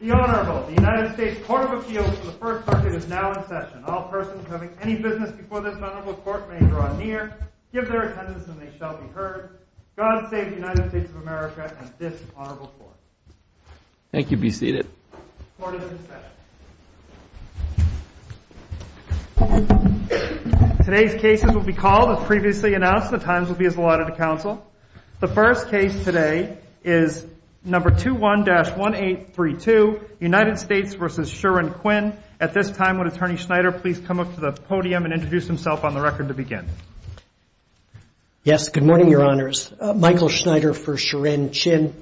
The Honorable, the United States Court of Appeals for the First Circuit is now in session. All persons having any business before this Honorable Court may draw near, give their attendance, and they shall be heard. God save the United States of America and this Honorable Court. Thank you. Be seated. Court is in session. Today's cases will be called as previously announced. The times will be as allotted to counsel. The first case today is No. 21-1832, United States v. Shirin Qin. At this time, would Attorney Schneider please come up to the podium and introduce himself on the record to begin? Yes, good morning, Your Honors. Michael Schneider for Shirin Qin.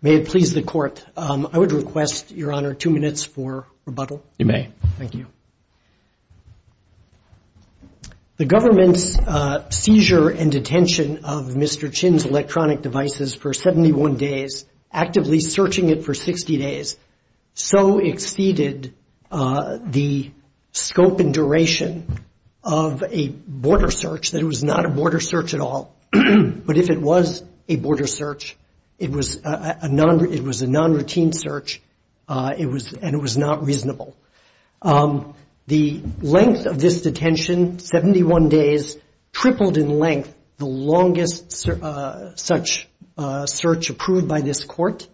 May it please the Court, I would request, Your Honor, two minutes for rebuttal. You may. Thank you. The government's seizure and detention of Mr. Qin's electronic devices for 71 days, actively searching it for 60 days, so exceeded the scope and duration of a border search that it was not a border search at all. But if it was a border search, it was a non-routine search, and it was not reasonable. The length of this detention, 71 days, tripled in length the longest such search approved by this Court,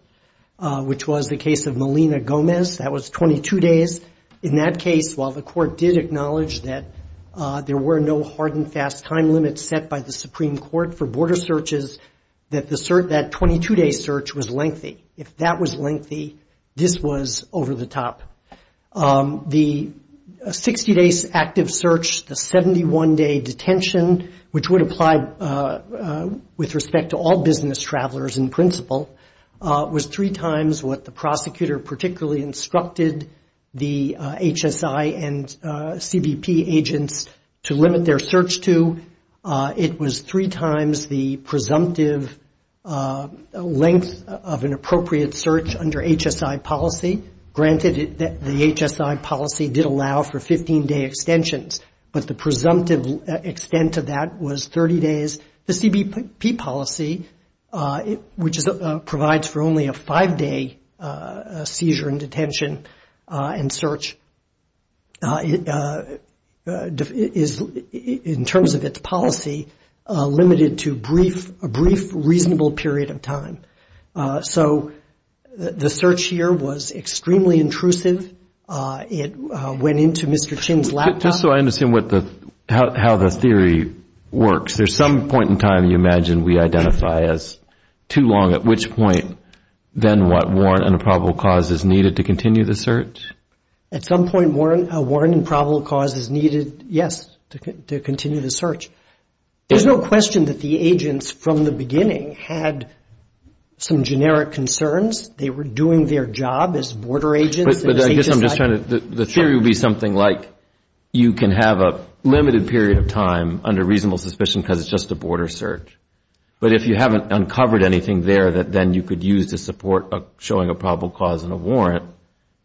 which was the case of Melina Gomez. That was 22 days. In that case, while the Court did acknowledge that there were no hard and fast time limits set by the Supreme Court for border searches, that 22-day search was lengthy. If that was lengthy, this was over the top. The 60-day active search, the 71-day detention, which would apply with respect to all business travelers in principle, was three times what the prosecutor particularly instructed the HSI and CBP agents to limit their search to. It was three times the presumptive length of an appropriate search under HSI policy. Granted, the HSI policy did allow for 15-day extensions, but the presumptive extent of that was 30 days. The CBP policy, which provides for only a five-day seizure and detention and search, is, in terms of its policy, limited to a brief, reasonable period of time. So the search here was extremely intrusive. It went into Mr. Chin's laptop. Just so I understand how the theory works, there's some point in time you imagine we identify as too long, at which point then what warrant and a probable cause is needed to continue the search? At some point, a warrant and probable cause is needed, yes, to continue the search. There's no question that the agents from the beginning had some generic concerns. They were doing their job as border agents. But I guess I'm just trying to, the theory would be something like you can have a limited period of time under reasonable suspicion because it's just a border search. But if you haven't uncovered anything there that then you could use to support showing a probable cause and a warrant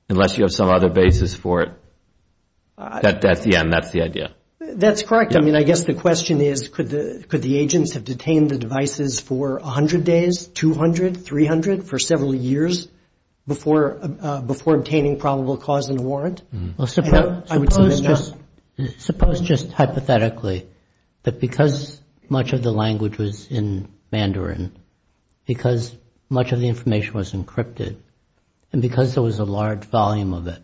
unless you have some other basis for it. That's the end. That's the idea. That's correct. I mean, I guess the question is could the agents have detained the devices for 100 days, 200, 300, for several years before obtaining probable cause and a warrant? Well, suppose just hypothetically that because much of the language was in Mandarin, because much of the information was encrypted, and because there was a large volume of it,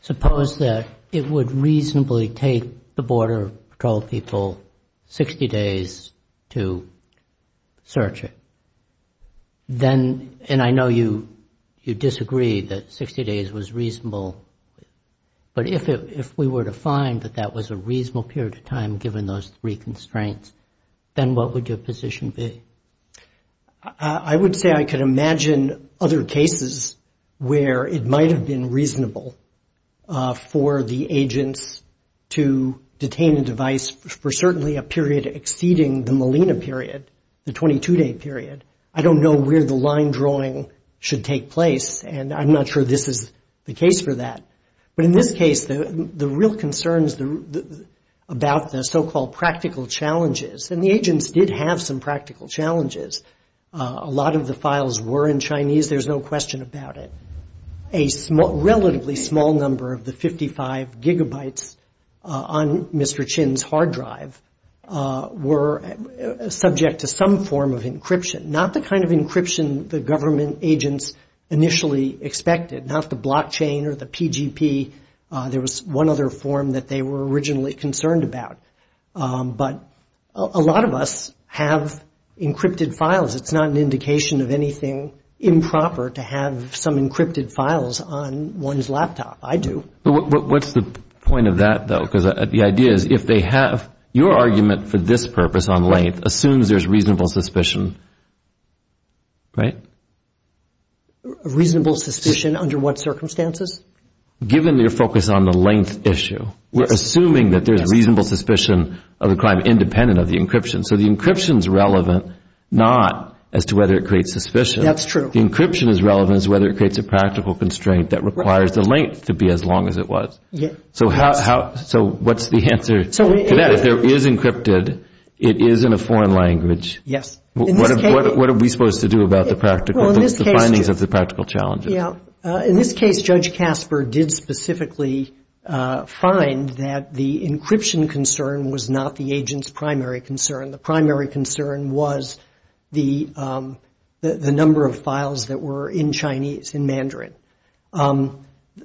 suppose that it would reasonably take the border patrol people 60 days to search it. Then, and I know you disagree that 60 days was reasonable, but if we were to find that that was a reasonable period of time given those three constraints, then what would your position be? I would say I could imagine other cases where it might have been reasonable for the agents to detain a device for certainly a period exceeding the Molina period, the 22-day period. I don't know where the line drawing should take place, and I'm not sure this is the case for that. But in this case, the real concerns about the so-called practical challenges, and the agents did have some practical challenges. A lot of the files were in Chinese. There's no question about it. A relatively small number of the 55 gigabytes on Mr. Chin's hard drive were subject to some form of encryption, not the kind of encryption the government agents initially expected, not the blockchain or the PGP. There was one other form that they were originally concerned about. But a lot of us have encrypted files. It's not an indication of anything improper to have some encrypted files on one's laptop. I do. What's the point of that, though? Because the idea is if they have your argument for this purpose on length assumes there's reasonable suspicion, right? Reasonable suspicion under what circumstances? Given your focus on the length issue, we're assuming that there's reasonable suspicion of the crime independent of the encryption. So the encryption is relevant not as to whether it creates suspicion. That's true. The encryption is relevant as to whether it creates a practical constraint that requires the length to be as long as it was. So what's the answer to that? If it is encrypted, it is in a foreign language. Yes. What are we supposed to do about the findings of the practical challenges? In this case, Judge Casper did specifically find that the encryption concern was not the agent's primary concern. The primary concern was the number of files that were in Chinese, in Mandarin.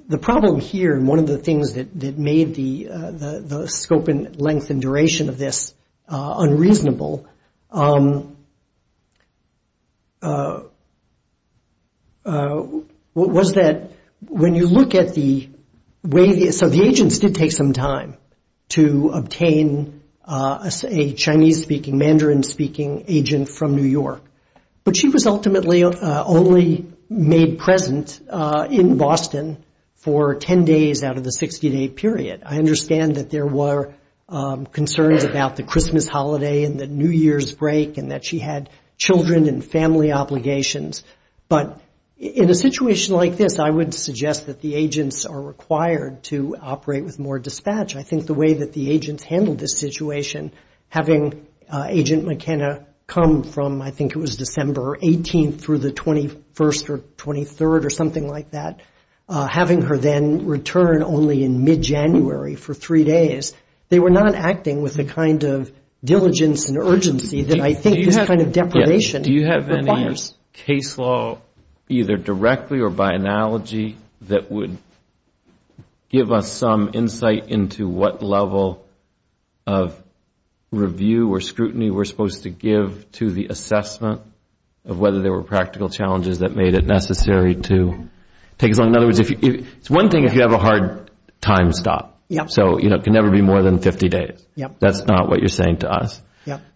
The problem here, and one of the things that made the scope and length and duration of this unreasonable, was that when you look at the way the agents did take some time to obtain a Chinese-speaking, Mandarin-speaking agent from New York, but she was ultimately only made present in Boston for 10 days out of the 60-day period. I understand that there were concerns about the Christmas holiday and the New Year's break and that she had children and family obligations, but in a situation like this, I would suggest that the agents are required to operate with more dispatch. I think the way that the agents handled this situation, having Agent McKenna come from, I think it was December 18th through the 21st or 23rd or something like that, having her then return only in mid-January for three days, they were not acting with the kind of diligence and urgency that I think this kind of deprivation requires. Is this case law either directly or by analogy that would give us some insight into what level of review or scrutiny we're supposed to give to the assessment of whether there were practical challenges that made it necessary to take us on? In other words, it's one thing if you have a hard time stop, so it can never be more than 50 days. That's not what you're saying to us.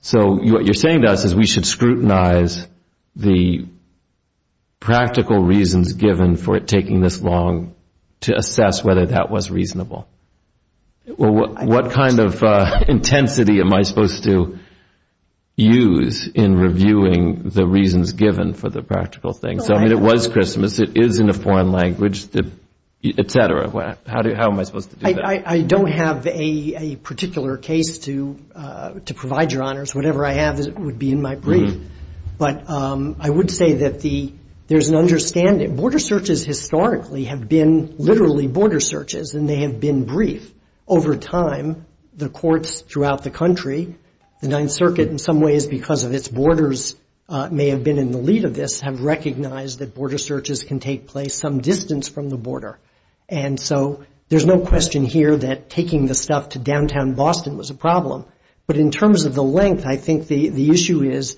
So what you're saying to us is we should scrutinize the practical reasons given for it taking this long to assess whether that was reasonable. What kind of intensity am I supposed to use in reviewing the reasons given for the practical things? It was Christmas, it is in a foreign language, et cetera. How am I supposed to do that? I don't have a particular case to provide your honors. Whatever I have would be in my brief. But I would say that there's an understanding. Border searches historically have been literally border searches and they have been brief. Over time, the courts throughout the country, the Ninth Circuit in some ways because of its borders may have been in the lead of this, have recognized that border searches can take place some distance from the border. And so there's no question here that taking the stuff to downtown Boston was a problem. But in terms of the length, I think the issue is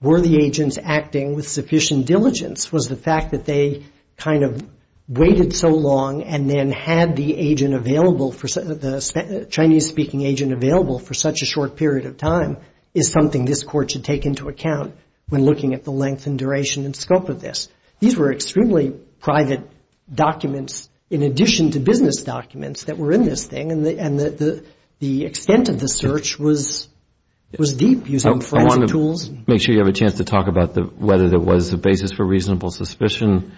were the agents acting with sufficient diligence? Was the fact that they kind of waited so long and then had the agent available, the Chinese-speaking agent available for such a short period of time, is something this court should take into account when looking at the length and duration and scope of this. These were extremely private documents in addition to business documents that were in this thing. And the extent of the search was deep. I want to make sure you have a chance to talk about whether there was a basis for reasonable suspicion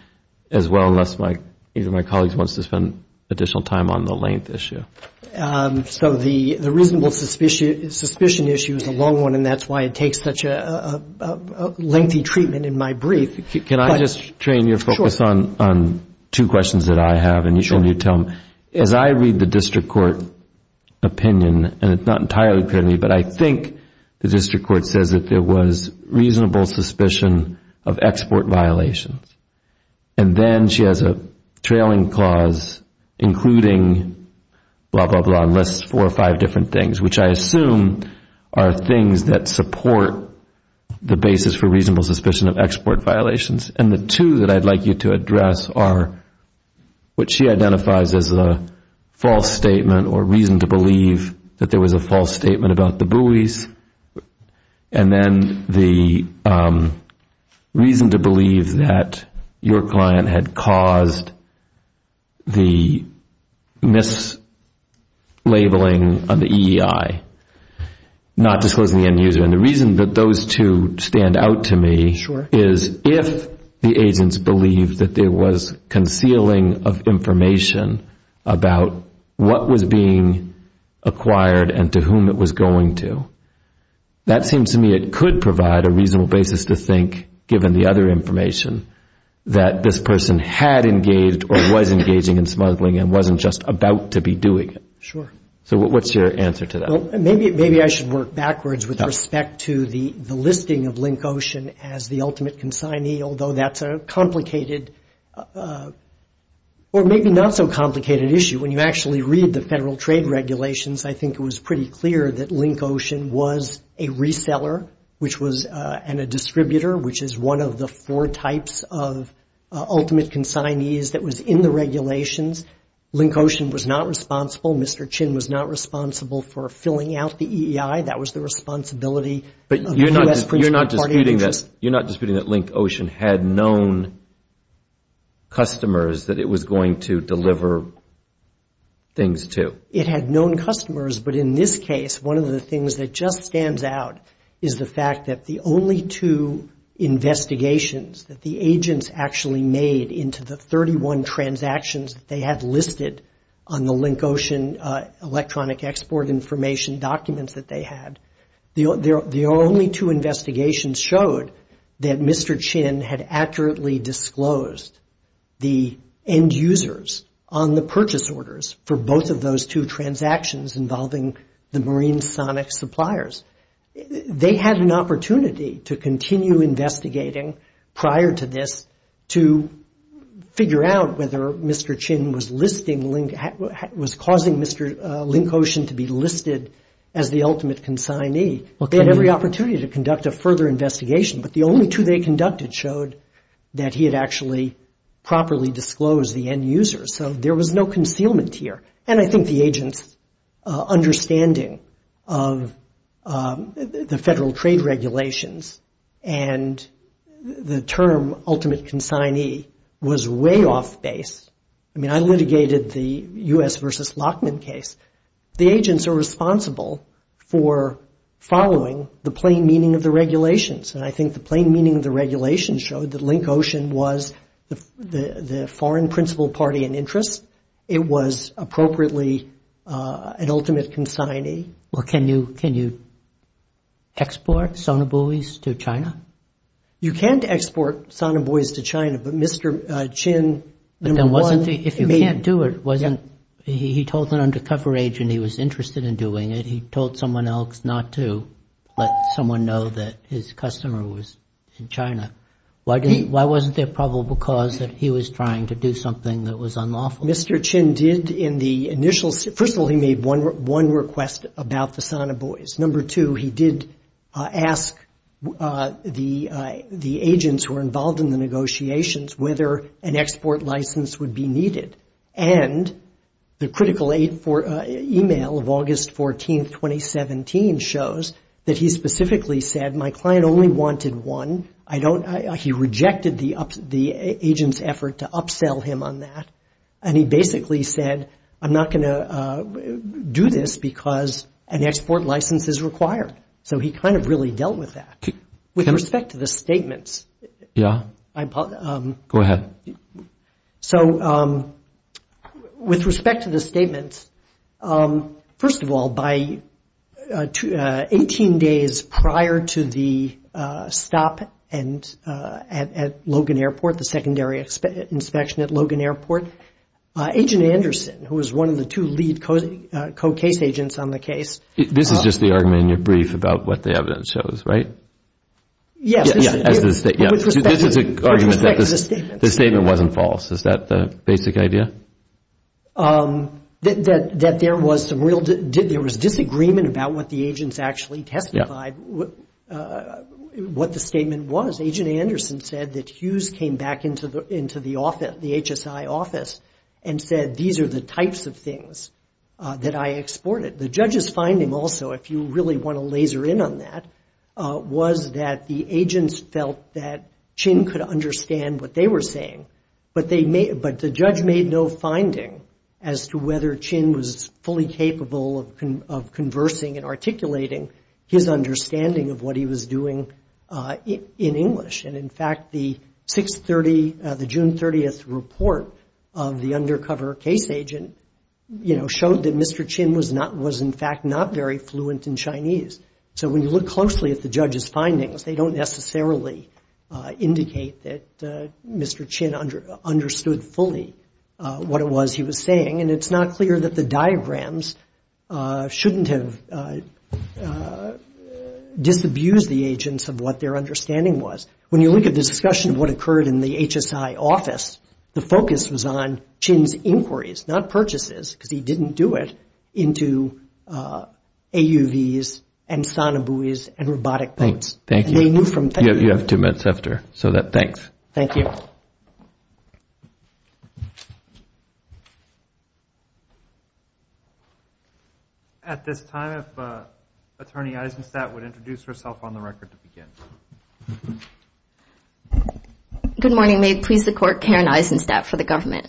as well, unless either of my colleagues wants to spend additional time on the length issue. So the reasonable suspicion issue is a long one and that's why it takes such a lengthy treatment in my brief. Can I just, Trane, your focus on two questions that I have and you tell them. As I read the district court opinion, and it's not entirely credible, but I think the district court says that there was reasonable suspicion of export violations. And then she has a trailing clause including blah, blah, blah, and lists four or five different things, which I assume are things that support the basis for reasonable suspicion of export violations. And the two that I'd like you to address are what she identifies as a false statement or reason to believe that there was a false statement about the buoys. And then the reason to believe that your client had caused the mislabeling of the EEI, not disclosing the end user. And the reason that those two stand out to me is if the agents believe that there was concealing of information about what was being acquired and to whom it was going to. That seems to me it could provide a reasonable basis to think, given the other information, that this person had engaged or was engaging in smuggling and wasn't just about to be doing it. So what's your answer to that? Maybe I should work backwards with respect to the listing of Link Ocean as the ultimate consignee, although that's a complicated or maybe not so complicated issue. When you actually read the Federal Trade Regulations, I think it was pretty clear that Link Ocean was a reseller and a distributor, which is one of the four types of ultimate consignees that was in the regulations. Link Ocean was not responsible. Mr. Chin was not responsible for filling out the EEI. You're not disputing that Link Ocean had known customers that it was going to deliver things to? It had known customers, but in this case, one of the things that just stands out is the fact that the only two investigations that the agents actually made into the 31 transactions they had listed on the Link Ocean electronic export information documents that they had, the only two investigations showed that Mr. Chin had accurately disclosed the end users on the purchase orders for both of those two transactions involving the marine sonic suppliers. They had an opportunity to continue investigating prior to this to figure out whether Mr. Chin was listing, was causing Mr. Link Ocean to be listed as the ultimate consignee. They had every opportunity to conduct a further investigation, but the only two they conducted showed that he had actually properly disclosed the end users, so there was no concealment here. The federal trade regulations and the term ultimate consignee was way off base. I mean, I litigated the U.S. versus Lockman case. The agents are responsible for following the plain meaning of the regulations, and I think the plain meaning of the regulations showed that Link Ocean was the foreign principal party in interest. It was appropriately an ultimate consignee. Well, can you export sonobuoys to China? You can't export sonobuoys to China, but Mr. Chin, number one. If you can't do it, he told an undercover agent he was interested in doing it. He told someone else not to let someone know that his customer was in China. Why wasn't there probable cause that he was trying to do something that was unlawful? Mr. Chin did in the initial, first of all, he made one request about the sonobuoys. Number two, he did ask the agents who were involved in the negotiations whether an export license would be needed, and the critical email of August 14, 2017 shows that he specifically said my client only wanted one. He rejected the agent's effort to upsell him on that, and he basically said, I'm not going to do this because an export license is required. So he kind of really dealt with that. With respect to the statements, first of all, by 18 days prior to the stop at Logan Airport, the secondary inspection at Logan Airport, Agent Anderson, who was one of the two lead co-case agents on the case, this is just the argument in your brief about what the evidence shows, right? This is an argument that the statement wasn't false. Is that the basic idea? That there was disagreement about what the agents actually testified, what the statement was. Agent Anderson said that Hughes came back into the office, the HSI office, and said, these are the types of things that I exported. The judge's finding also, if you really want to laser in on that, was that the agents felt that Chin could understand what they were saying, but the judge made no finding as to whether Chin was fully capable of conversing and articulating his understanding of what he was doing in English. And in fact, the June 30th report of the undercover case agent, you know, showed that Mr. Chin was in fact not very fluent in Chinese. So when you look closely at the judge's findings, they don't necessarily indicate that Mr. Chin understood fully what it was he was saying, and it's not clear that the diagrams shouldn't have disabused the agents of what their understanding was. When you look at the discussion of what occurred in the HSI office, the focus was on Chin's inquiries, not purchases, because he didn't do it, into AUVs and sonobuoys and robotic boats. Thank you. At this time, if Attorney Eisenstadt would introduce herself on the record to begin. Good morning. May it please the Court, Karen Eisenstadt for the government.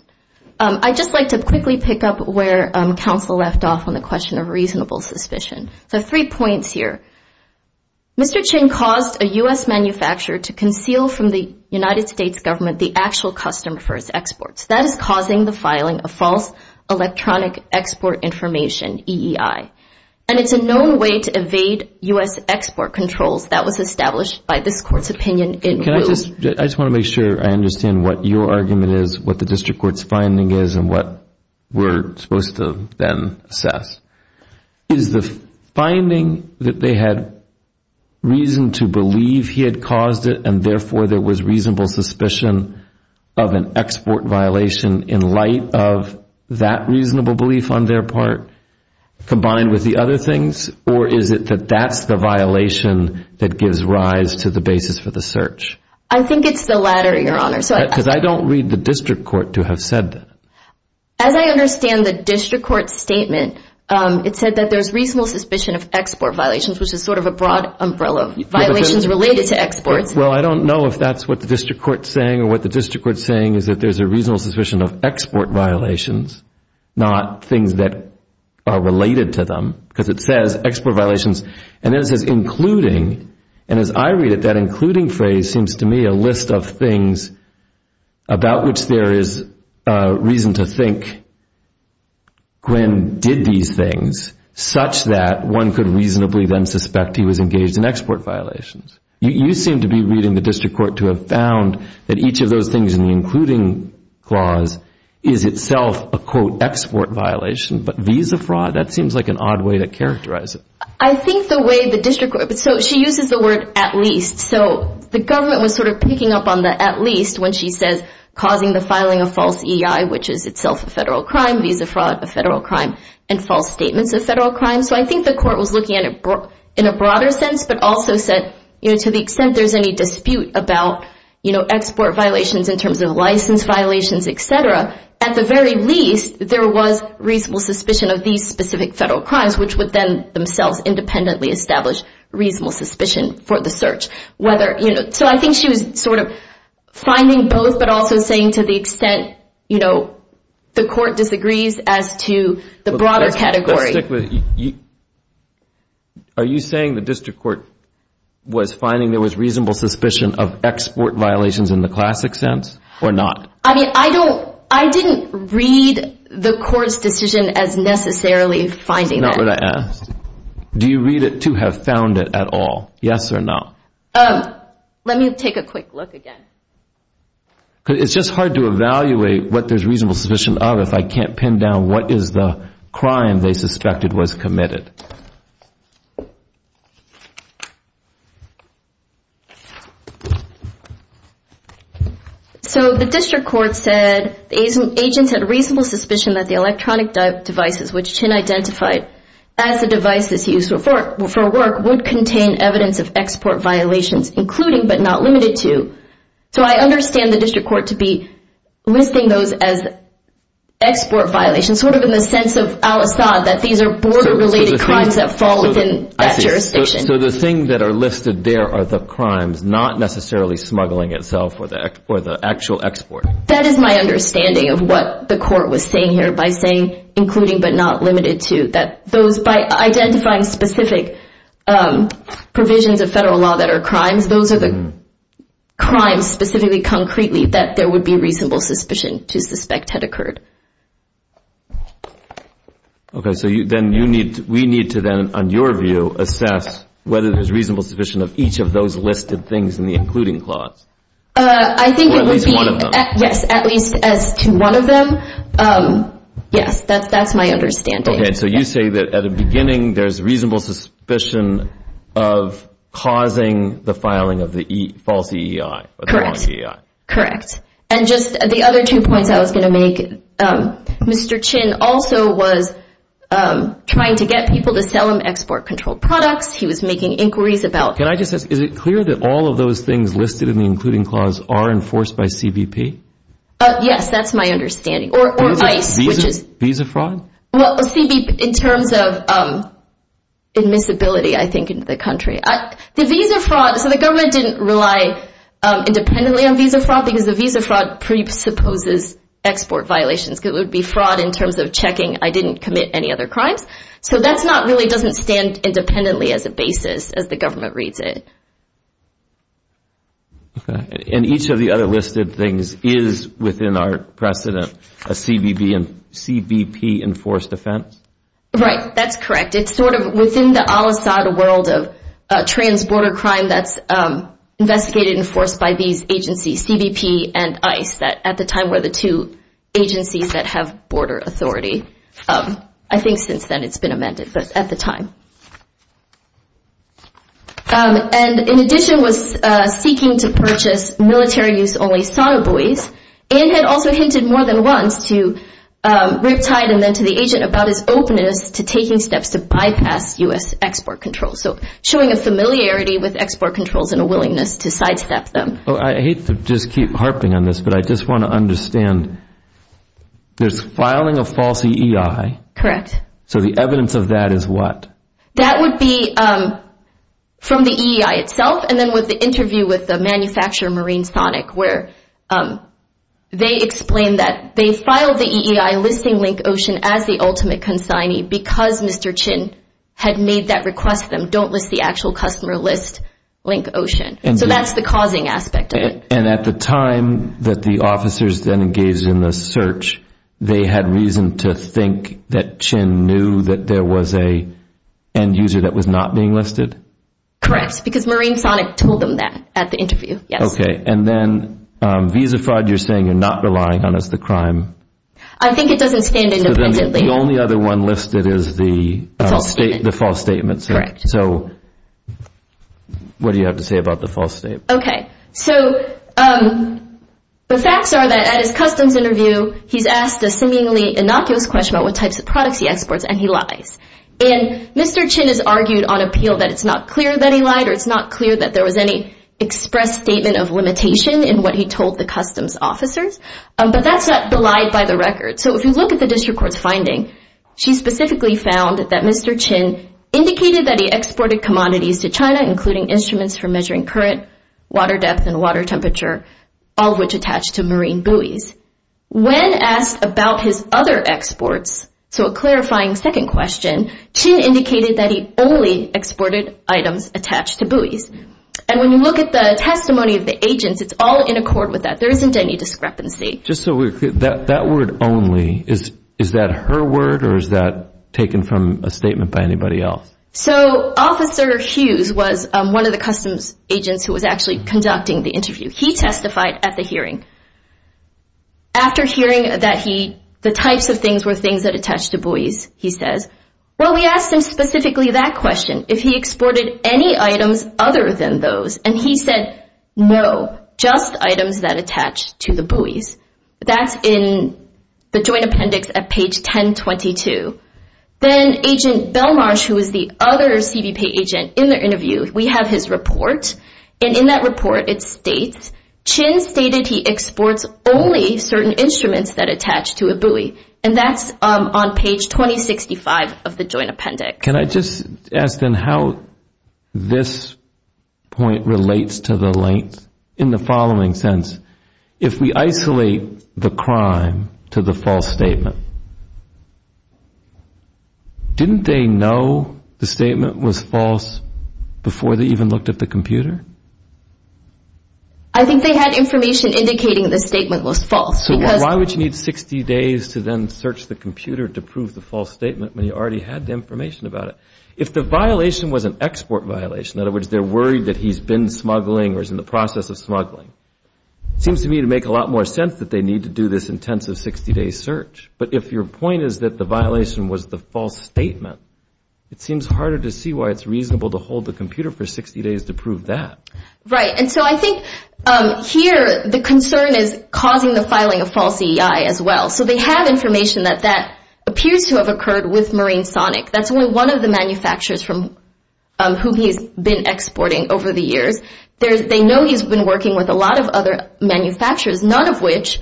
I'd just like to quickly pick up where counsel left off on the question of reasonable suspicion. I have three points here. Mr. Chin caused a U.S. manufacturer to conceal from the United States government the actual customer for his exports. That is causing the filing of false electronic export information, EEI. And it's a known way to evade U.S. export controls that was established by this Court's opinion in lieu. I just want to make sure I understand what your argument is, what the District Court's finding is, and what we're supposed to then assess. Is the finding that they had reason to believe he had caused it, and therefore there was reasonable suspicion of an export violation in light of that reasonable belief on their part, combined with the other things, or is it that that's the violation that gives rise to the basis for the search? I think it's the latter, Your Honor. Because I don't read the District Court to have said that. As I understand the District Court's statement, it said that there's reasonable suspicion of export violations, which is sort of a broad umbrella, violations related to exports. Well, I don't know if that's what the District Court's saying, or what the District Court's saying is that there's a reasonable suspicion of export violations, not things that are related to them, because it says export violations, and then it says including, and as I read it, that including phrase seems to me a list of things about which there is reason to think Glenn did these things such that one could reasonably then suspect he was engaged in export violations. You seem to be reading the District Court to have found that each of those things in the including clause is itself a, quote, export violation, but visa fraud? That seems like an odd way to characterize it. I think the way the District Court, so she uses the word at least, so the government was sort of picking up on the at least, when she says causing the filing of false EI, which is itself a federal crime, visa fraud, a federal crime, and false statements of federal crime, so I think the court was looking at it in a broader sense, but also said to the extent there's any dispute about export violations in terms of license violations, et cetera, at the very least there was reasonable suspicion of these specific federal crimes, which would then themselves independently establish reasonable suspicion for the search. So I think she was sort of finding both, but also saying to the extent the court disagrees as to the broader category. Are you saying the District Court was finding there was reasonable suspicion of export violations in the classic sense, or not? I mean, I don't, I didn't read the court's decision as necessarily finding that. That's not what I asked. Do you read it to have found it at all, yes or no? Let me take a quick look again. It's just hard to evaluate what there's reasonable suspicion of if I can't pin down what is the crime they suspected was committed. So the District Court said, agents had reasonable suspicion that the electronic devices, which Chin identified as the devices used for work, would contain evidence of export violations, including but not limited to. So I understand the District Court to be listing those as export violations, sort of in the sense of Al-Asad, that these are border-related crimes that fall within that jurisdiction. So the things that are listed there are the crimes, not necessarily smuggling itself or the actual export. That is my understanding of what the court was saying here, by saying including but not limited to. By identifying specific provisions of federal law that are crimes, those are the crimes specifically, concretely, that there would be reasonable suspicion to suspect had occurred. Okay, so we need to then, on your view, assess whether there's reasonable suspicion of each of those listed things in the including clause. Or at least one of them. Yes, at least as to one of them. Yes, that's my understanding. Okay, so you say that at the beginning there's reasonable suspicion of causing the filing of the false EEI. Correct. And just the other two points I was going to make. Mr. Chin also was trying to get people to sell him export-controlled products. He was making inquiries about... Can I just ask, is it clear that all of those things listed in the including clause are enforced by CBP? Yes, that's my understanding. Or ICE, which is... Visa fraud? Well, CBP in terms of admissibility, I think, in the country. So the government didn't rely independently on visa fraud because the visa fraud presupposes export violations. It would be fraud in terms of checking I didn't commit any other crimes. So that really doesn't stand independently as a basis as the government reads it. Okay. And each of the other listed things is within our precedent a CBP-enforced offense? Right, that's correct. It's sort of within the al-Assad world of trans-border crime that's investigated and enforced by these agencies, CBP and ICE, that at the time were the two agencies that have border authority. I think since then it's been amended, but at the time. And in addition was seeking to purchase military-use-only sauna buoys. Ann had also hinted more than once to Riptide and then to the agent about his openness to taking steps to bypass U.S. export controls. So showing a familiarity with export controls and a willingness to sidestep them. I hate to just keep harping on this, but I just want to understand there's filing of false EEI. Correct. So the evidence of that is what? That would be from the EEI itself and then with the interview with the manufacturer Marine Sonic where they explain that they filed the EEI listing for Link Ocean as the ultimate consignee because Mr. Chin had made that request to them, don't list the actual customer, list Link Ocean. So that's the causing aspect of it. And at the time that the officers then engaged in the search, they had reason to think that Chin knew that there was an end user that was not being listed? Correct, because Marine Sonic told them that at the interview, yes. Okay. And then Visa fraud, you're saying you're not relying on as the crime? I think it doesn't stand independently. So then the only other one listed is the false statement? Correct. So what do you have to say about the false statement? Okay. So the facts are that at his customs interview, he's asked a seemingly innocuous question about what types of products he exports and he lies. And Mr. Chin has argued on appeal that it's not clear that he lied or it's not clear that there was any express statement of limitation in what he told the customs officers, but that's not belied by the record. So if you look at the district court's finding, she specifically found that Mr. Chin indicated that he exported commodities to China, including instruments for measuring current, water depth, and water temperature, all of which attach to marine buoys. When asked about his other exports, so a clarifying second question, Chin indicated that he only exported items attached to buoys. And when you look at the testimony of the agents, it's all in accord with that. There isn't any discrepancy. Just so we're clear, that word only, is that her word or is that taken from a statement by anybody else? So Officer Hughes was one of the customs agents who was actually conducting the interview. He testified at the hearing. After hearing that the types of things were things that attach to buoys, he says, well, we asked him specifically that question, if he exported any items other than those, and he said, no, just items that attach to the buoys. That's in the joint appendix at page 1022. Then Agent Belmarsh, who is the other CBP agent in the interview, we have his report, and in that report it states, Chin stated he exports only certain instruments that attach to a buoy. And that's on page 2065 of the joint appendix. Can I just ask then how this point relates to the length? In the following sense, if we isolate the crime to the false statement, didn't they know the statement was false before they even looked at the computer? I think they had information indicating the statement was false. So why would you need 60 days to then search the computer to prove the false statement when you already had the information about it? If the violation was an export violation, in other words, they're worried that he's been smuggling or is in the process of smuggling, it seems to me to make a lot more sense that they need to do this intensive 60-day search. But if your point is that the violation was the false statement, it seems harder to see why it's reasonable to hold the computer for 60 days to prove that. Right. And so I think here the concern is causing the filing of false EI as well. So they have information that that appears to have occurred with Marine Sonic. That's only one of the manufacturers from whom he's been exporting over the years. They know he's been working with a lot of other manufacturers, none of which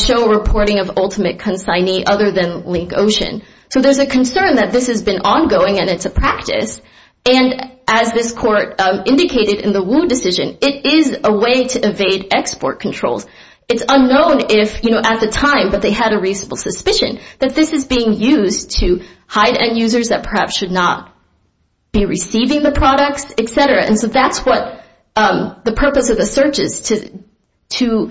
show a reporting of ultimate consignee other than Link Ocean. So there's a concern that this has been ongoing and it's a practice. And as this court indicated in the Wu decision, it is a way to evade export controls. It's unknown if, you know, at the time that they had a reasonable suspicion that this is being used to hide end users that perhaps should not be receiving the products, et cetera. And so that's what the purpose of the search is, to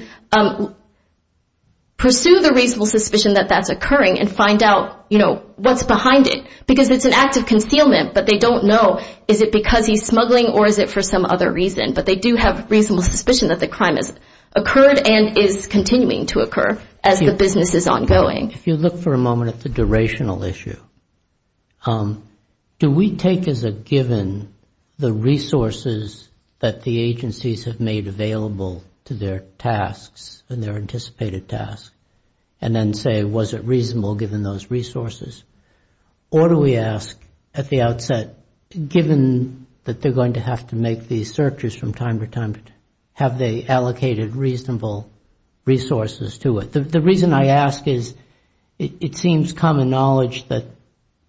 pursue the reasonable suspicion that that's occurring and find out, you know, what's behind it. Because it's an act of concealment, but they don't know is it because he's smuggling or is it for some other reason. But they do have reasonable suspicion that the crime has occurred and is continuing to occur as the business is ongoing. If you look for a moment at the durational issue, do we take as a given the resources that the agencies have made available to their tasks and their anticipated tasks, and then say was it reasonable given those resources? Or do we ask at the outset, given that they're going to have to make these searches from time to time, have they allocated reasonable resources to it? The reason I ask is it seems common knowledge that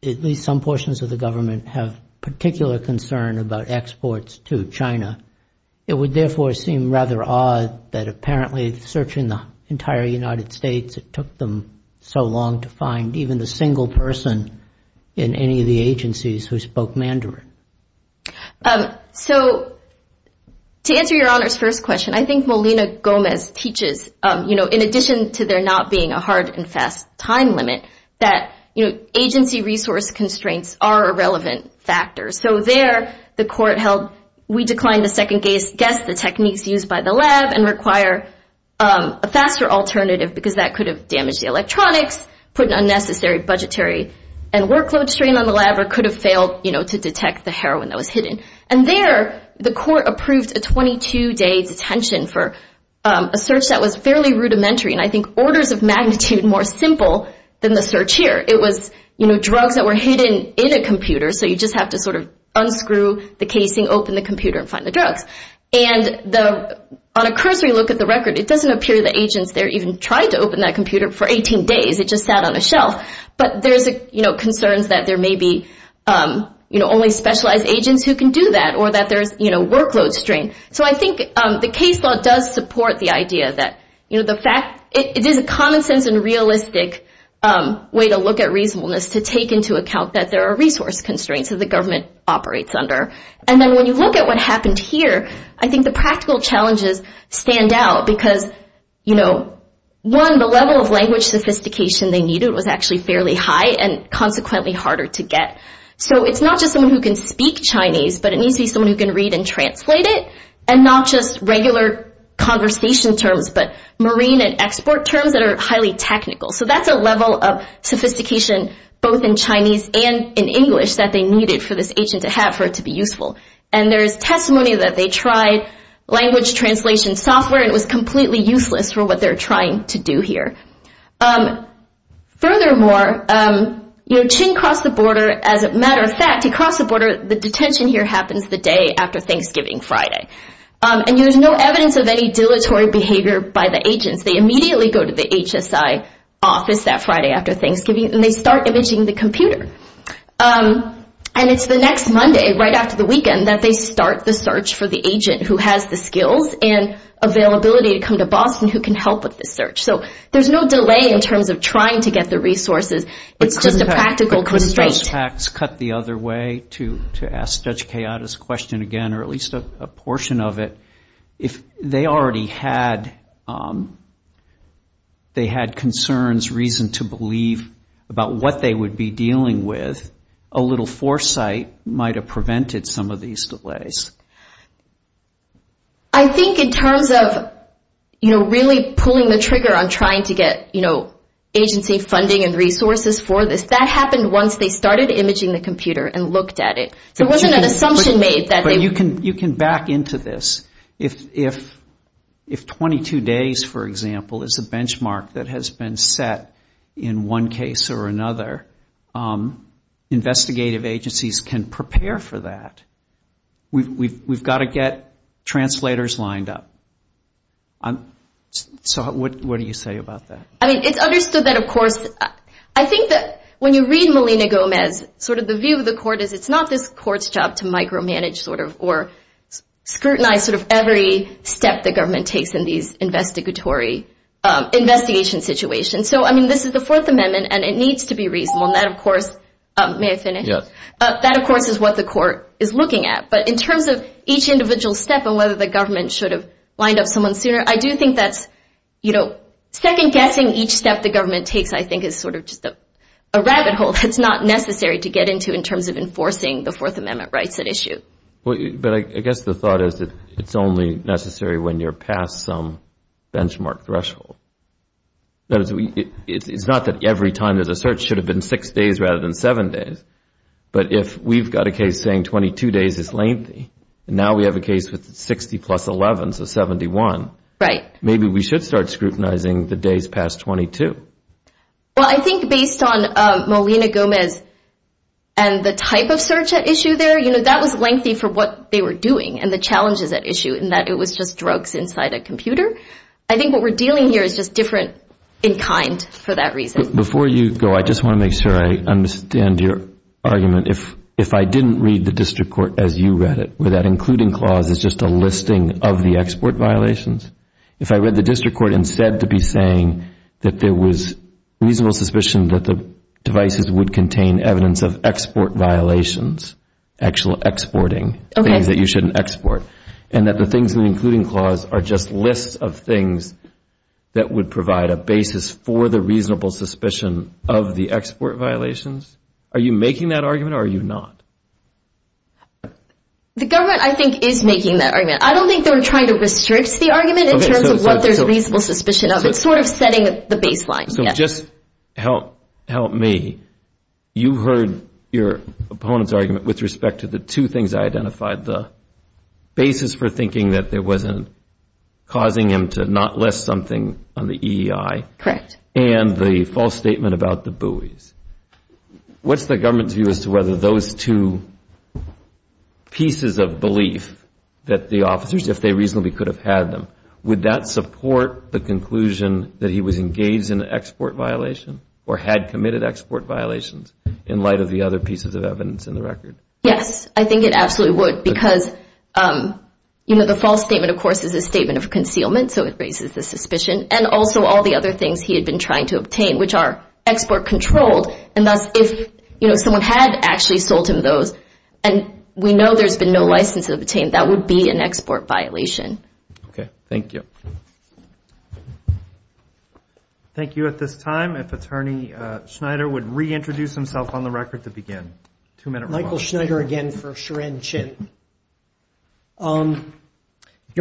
at least some portions of the government have particular concern about exports to China. It would therefore seem rather odd that apparently searching the entire United States, it took them so long to find even the single person in any of the agencies who spoke Mandarin. So to answer Your Honor's first question, I think Molina Gomez teaches, you know, in addition to there not being a hard and fast time limit, that, you know, agency resource constraints are a relevant factor. So there the court held we declined to second guess the techniques used by the lab and require a faster alternative because that could have damaged the electronics, put an unnecessary budgetary and workload strain on the lab, or could have failed, you know, to detect the heroin that was hidden. And there the court approved a 22-day detention for a search that was fairly rudimentary, and I think orders of magnitude more simple than the search here. It was, you know, drugs that were hidden in a computer, so you just have to sort of unscrew the casing, open the computer and find the drugs. And on a cursory look at the record, it doesn't appear the agents there even tried to open that computer for 18 days. It just sat on a shelf, but there's, you know, concerns that there may be, you know, only specialized agents who can do that or that there's, you know, workload strain. So I think the case law does support the idea that, you know, the fact it is a common sense and realistic way to look at reasonableness to take into account that there are resource constraints that the government operates under. And then when you look at what happened here, I think the practical challenges stand out because, you know, one, the level of language sophistication they needed was actually fairly high and consequently harder to get. So it's not just someone who can speak Chinese, but it needs to be someone who can read and translate it, and not just regular conversation terms, but marine and export terms that are highly technical. So that's a level of sophistication both in Chinese and in English that they needed for this agent to have, for it to be useful. And there's testimony that they tried language translation software, and it was completely useless for what they're trying to do here. Furthermore, you know, Qin crossed the border. As a matter of fact, he crossed the border. The detention here happens the day after Thanksgiving, Friday. And there's no evidence of any dilatory behavior by the agents. They immediately go to the HSI office that Friday after Thanksgiving, and they start imaging the computer. And it's the next Monday, right after the weekend, that they start the search for the agent who has the skills and availability to come to Boston who can help with the search. So there's no delay in terms of trying to get the resources. It's just a practical constraint. I think those facts cut the other way, to ask Judge Kayada's question again, or at least a portion of it. If they already had concerns, reason to believe about what they would be dealing with, a little foresight might have prevented some of these delays. I think in terms of, you know, really pulling the trigger on trying to get, you know, agency funding and resources for this, that happened once they started imaging the computer and looked at it. So it wasn't an assumption made that they would. But you can back into this. If 22 days, for example, is a benchmark that has been set in one case or another, investigative agencies can prepare for that. We've got to get translators lined up. So what do you say about that? I mean, it's understood that, of course, I think that when you read Melina Gomez, sort of the view of the court is it's not this court's job to micromanage, sort of, or scrutinize sort of every step the government takes in these investigatory, investigation situations. So, I mean, this is the Fourth Amendment, and it needs to be reasonable. And that, of course, may I finish? Yes. That, of course, is what the court is looking at. But in terms of each individual step and whether the government should have lined up someone sooner, I do think that's, you know, second-guessing each step the government takes, I think, is sort of just a rabbit hole that's not necessary to get into in terms of enforcing the Fourth Amendment rights at issue. But I guess the thought is that it's only necessary when you're past some benchmark threshold. It's not that every time there's a search should have been six days rather than seven days. But if we've got a case saying 22 days is lengthy, and now we have a case with 60 plus 11, so 71, maybe we should start scrutinizing the days past 22. Well, I think based on Molina-Gomez and the type of search at issue there, you know, that was lengthy for what they were doing and the challenges at issue in that it was just drugs inside a computer. I think what we're dealing here is just different in kind for that reason. Before you go, I just want to make sure I understand your argument. If I didn't read the district court as you read it, where that including clause is just a listing of the export violations, if I read the district court instead to be saying that there was reasonable suspicion that the devices would contain evidence of export violations, actual exporting, things that you shouldn't export, and that the things in the including clause are just lists of things that would provide a basis for the reasonable suspicion of the export violations, are you making that argument or are you not? The government, I think, is making that argument. I don't think they're trying to restrict the argument in terms of what there's reasonable suspicion of. It's sort of setting the baseline. So just help me. You heard your opponent's argument with respect to the two things I identified, the basis for thinking that it wasn't causing him to not list something on the EEI, and the false statement about the buoys. What's the government's view as to whether those two pieces of belief that the officers, if they reasonably could have had them, would that support the conclusion that he was engaged in an export violation or had committed export violations in light of the other pieces of evidence in the record? Yes. I think it absolutely would because, you know, the false statement, of course, is a statement of concealment, so it raises the suspicion, and also all the other things he had been trying to obtain, which are export controlled, and thus if, you know, someone had actually sold him those and we know there's been no license obtained, that would be an export violation. Okay. Thank you. Thank you. At this time, if Attorney Schneider would reintroduce himself on the record to begin. Michael Schneider again for Sharon Chin. Your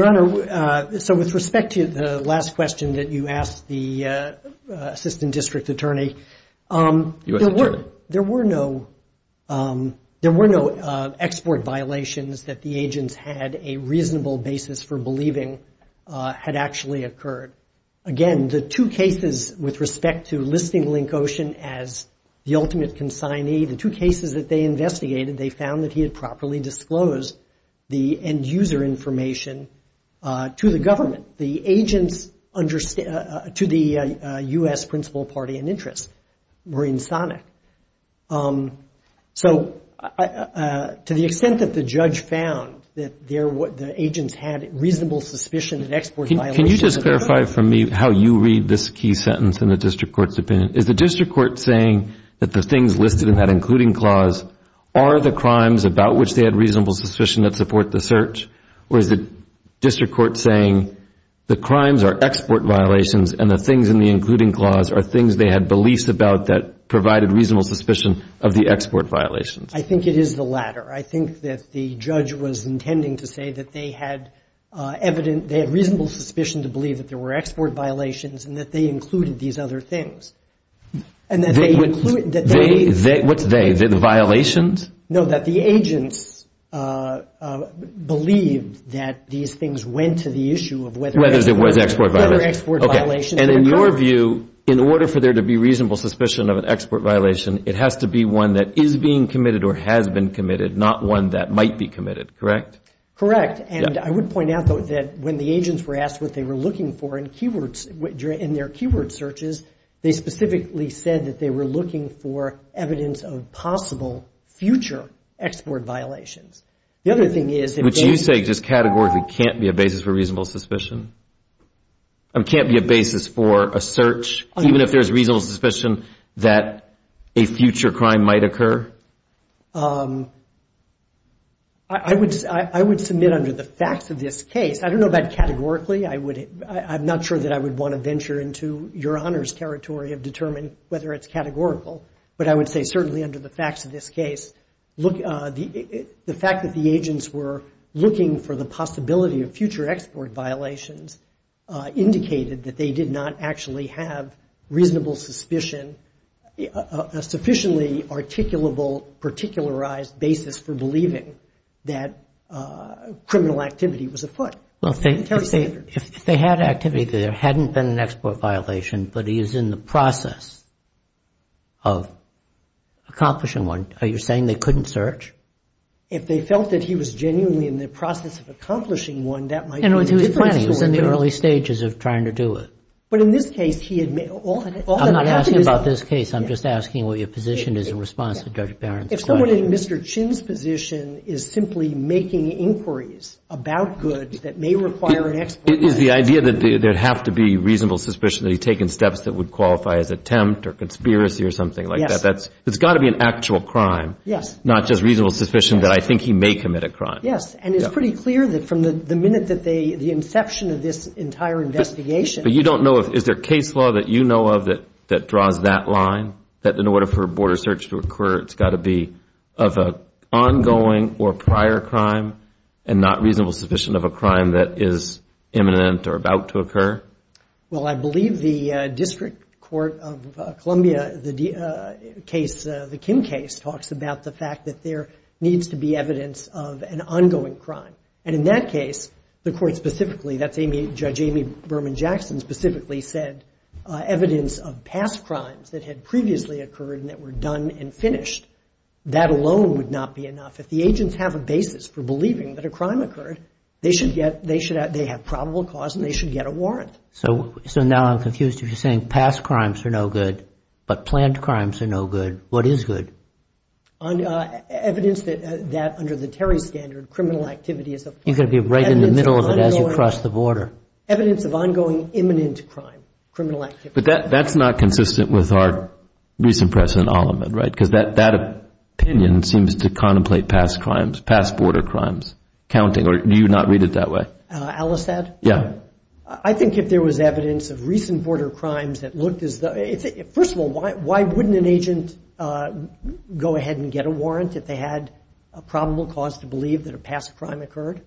Honor, so with respect to the last question that you asked the Assistant District Attorney, there were no export violations that the agents had a reasonable basis for believing had actually occurred. Again, the two cases with respect to listing Link Ocean as the ultimate consignee, the two cases that they investigated, they found that he had properly disclosed the end user information to the government. The agents to the U.S. principal party in interest were insonic. So to the extent that the judge found that the agents had reasonable suspicion of export violations. Can you just clarify for me how you read this key sentence in the district court's opinion? Is the district court saying that the things listed in that including clause are the crimes about which they had reasonable suspicion that support the search? Or is the district court saying the crimes are export violations and the things in the including clause are things they had beliefs about that provided reasonable suspicion of the export violations? I think it is the latter. I think that the judge was intending to say that they had evident they had reasonable suspicion to believe that there were export violations and that they included these other things. What's they? The violations? No, that the agents believed that these things went to the issue of whether there were export violations. And in your view, in order for there to be reasonable suspicion of an export violation, it has to be one that is being committed or has been committed, not one that might be committed, correct? Correct. And I would point out, though, that when the agents were asked what they were looking for in their keyword searches, they specifically said that they were looking for evidence of possible future export violations. The other thing is if they Which you say just categorically can't be a basis for reasonable suspicion? Can't be a basis for a search even if there's reasonable suspicion that a future crime might occur? I would submit under the facts of this case, I don't know about categorically, I'm not sure that I would want to venture into your Honor's territory of determining whether it's categorical, but I would say certainly under the facts of this case, the fact that the agents were looking for the possibility of future export violations indicated that they did not actually have reasonable suspicion, a sufficiently articulable, particularized basis for believing that criminal activity was afoot. Well, if they had activity, there hadn't been an export violation, but he was in the process of accomplishing one. Are you saying they couldn't search? If they felt that he was genuinely in the process of accomplishing one, that might be a different story. He was planning. He was in the early stages of trying to do it. But in this case, he had made I'm not asking about this case. I'm just asking what your position is in response to Judge Barron's question. If someone in Mr. Chin's position is simply making inquiries about goods that may require an export It is the idea that there'd have to be reasonable suspicion that he'd taken steps that would qualify as attempt or conspiracy or something like that. It's got to be an actual crime, not just reasonable suspicion that I think he may commit a crime. Yes, and it's pretty clear that from the minute that the inception of this entire investigation But you don't know if Is there case law that you know of that draws that line? That in order for a border search to occur, it's got to be of an ongoing or prior crime and not reasonable suspicion of a crime that is imminent or about to occur? Well, I believe the District Court of Columbia, the Kim case, talks about the fact that there needs to be evidence of an ongoing crime. And in that case, the court specifically, Judge Amy Berman Jackson specifically said evidence of past crimes that had previously occurred and that were done and finished that alone would not be enough. If the agents have a basis for believing that a crime occurred, they have probable cause and they should get a warrant. So now I'm confused. If you're saying past crimes are no good, but planned crimes are no good, what is good? Evidence that under the Terry standard, criminal activity is a crime. You've got to be right in the middle of it as you cross the border. Evidence of ongoing imminent crime, criminal activity. But that's not consistent with our recent press in Alamod, right? Because that opinion seems to contemplate past crimes, past border crimes. Counting, or do you not read it that way? Alistad? Yeah. I think if there was evidence of recent border crimes that looked as though First of all, why wouldn't an agent go ahead and get a warrant if they had a probable cause to believe that a past crime occurred?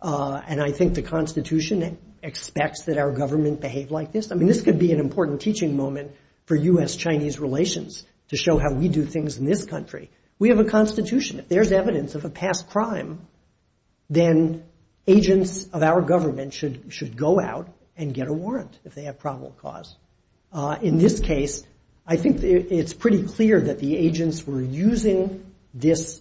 And I think the Constitution expects that our government behave like this. I mean, this could be an important teaching moment for U.S.-Chinese relations to show how we do things in this country. We have a Constitution. If there's evidence of a past crime, then agents of our government should go out and get a warrant if they have probable cause. In this case, I think it's pretty clear that the agents were using this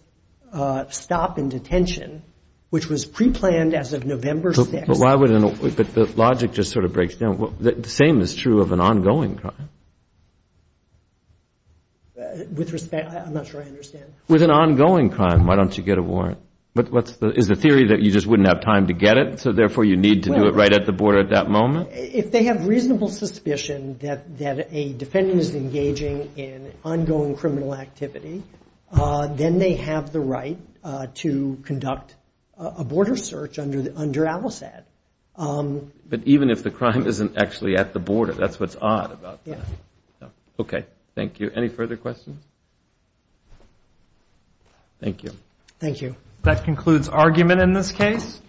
stop in detention, which was preplanned as of November 6th. But why would an – but the logic just sort of breaks down. The same is true of an ongoing crime. With respect – I'm not sure I understand. With an ongoing crime, why don't you get a warrant? But what's the – is the theory that you just wouldn't have time to get it, at that moment? If they have reasonable suspicion that a defendant is engaging in ongoing criminal activity, then they have the right to conduct a border search under ALICAD. But even if the crime isn't actually at the border, that's what's odd about that. Yeah. Okay, thank you. Any further questions? Thank you. Thank you. That concludes argument in this case.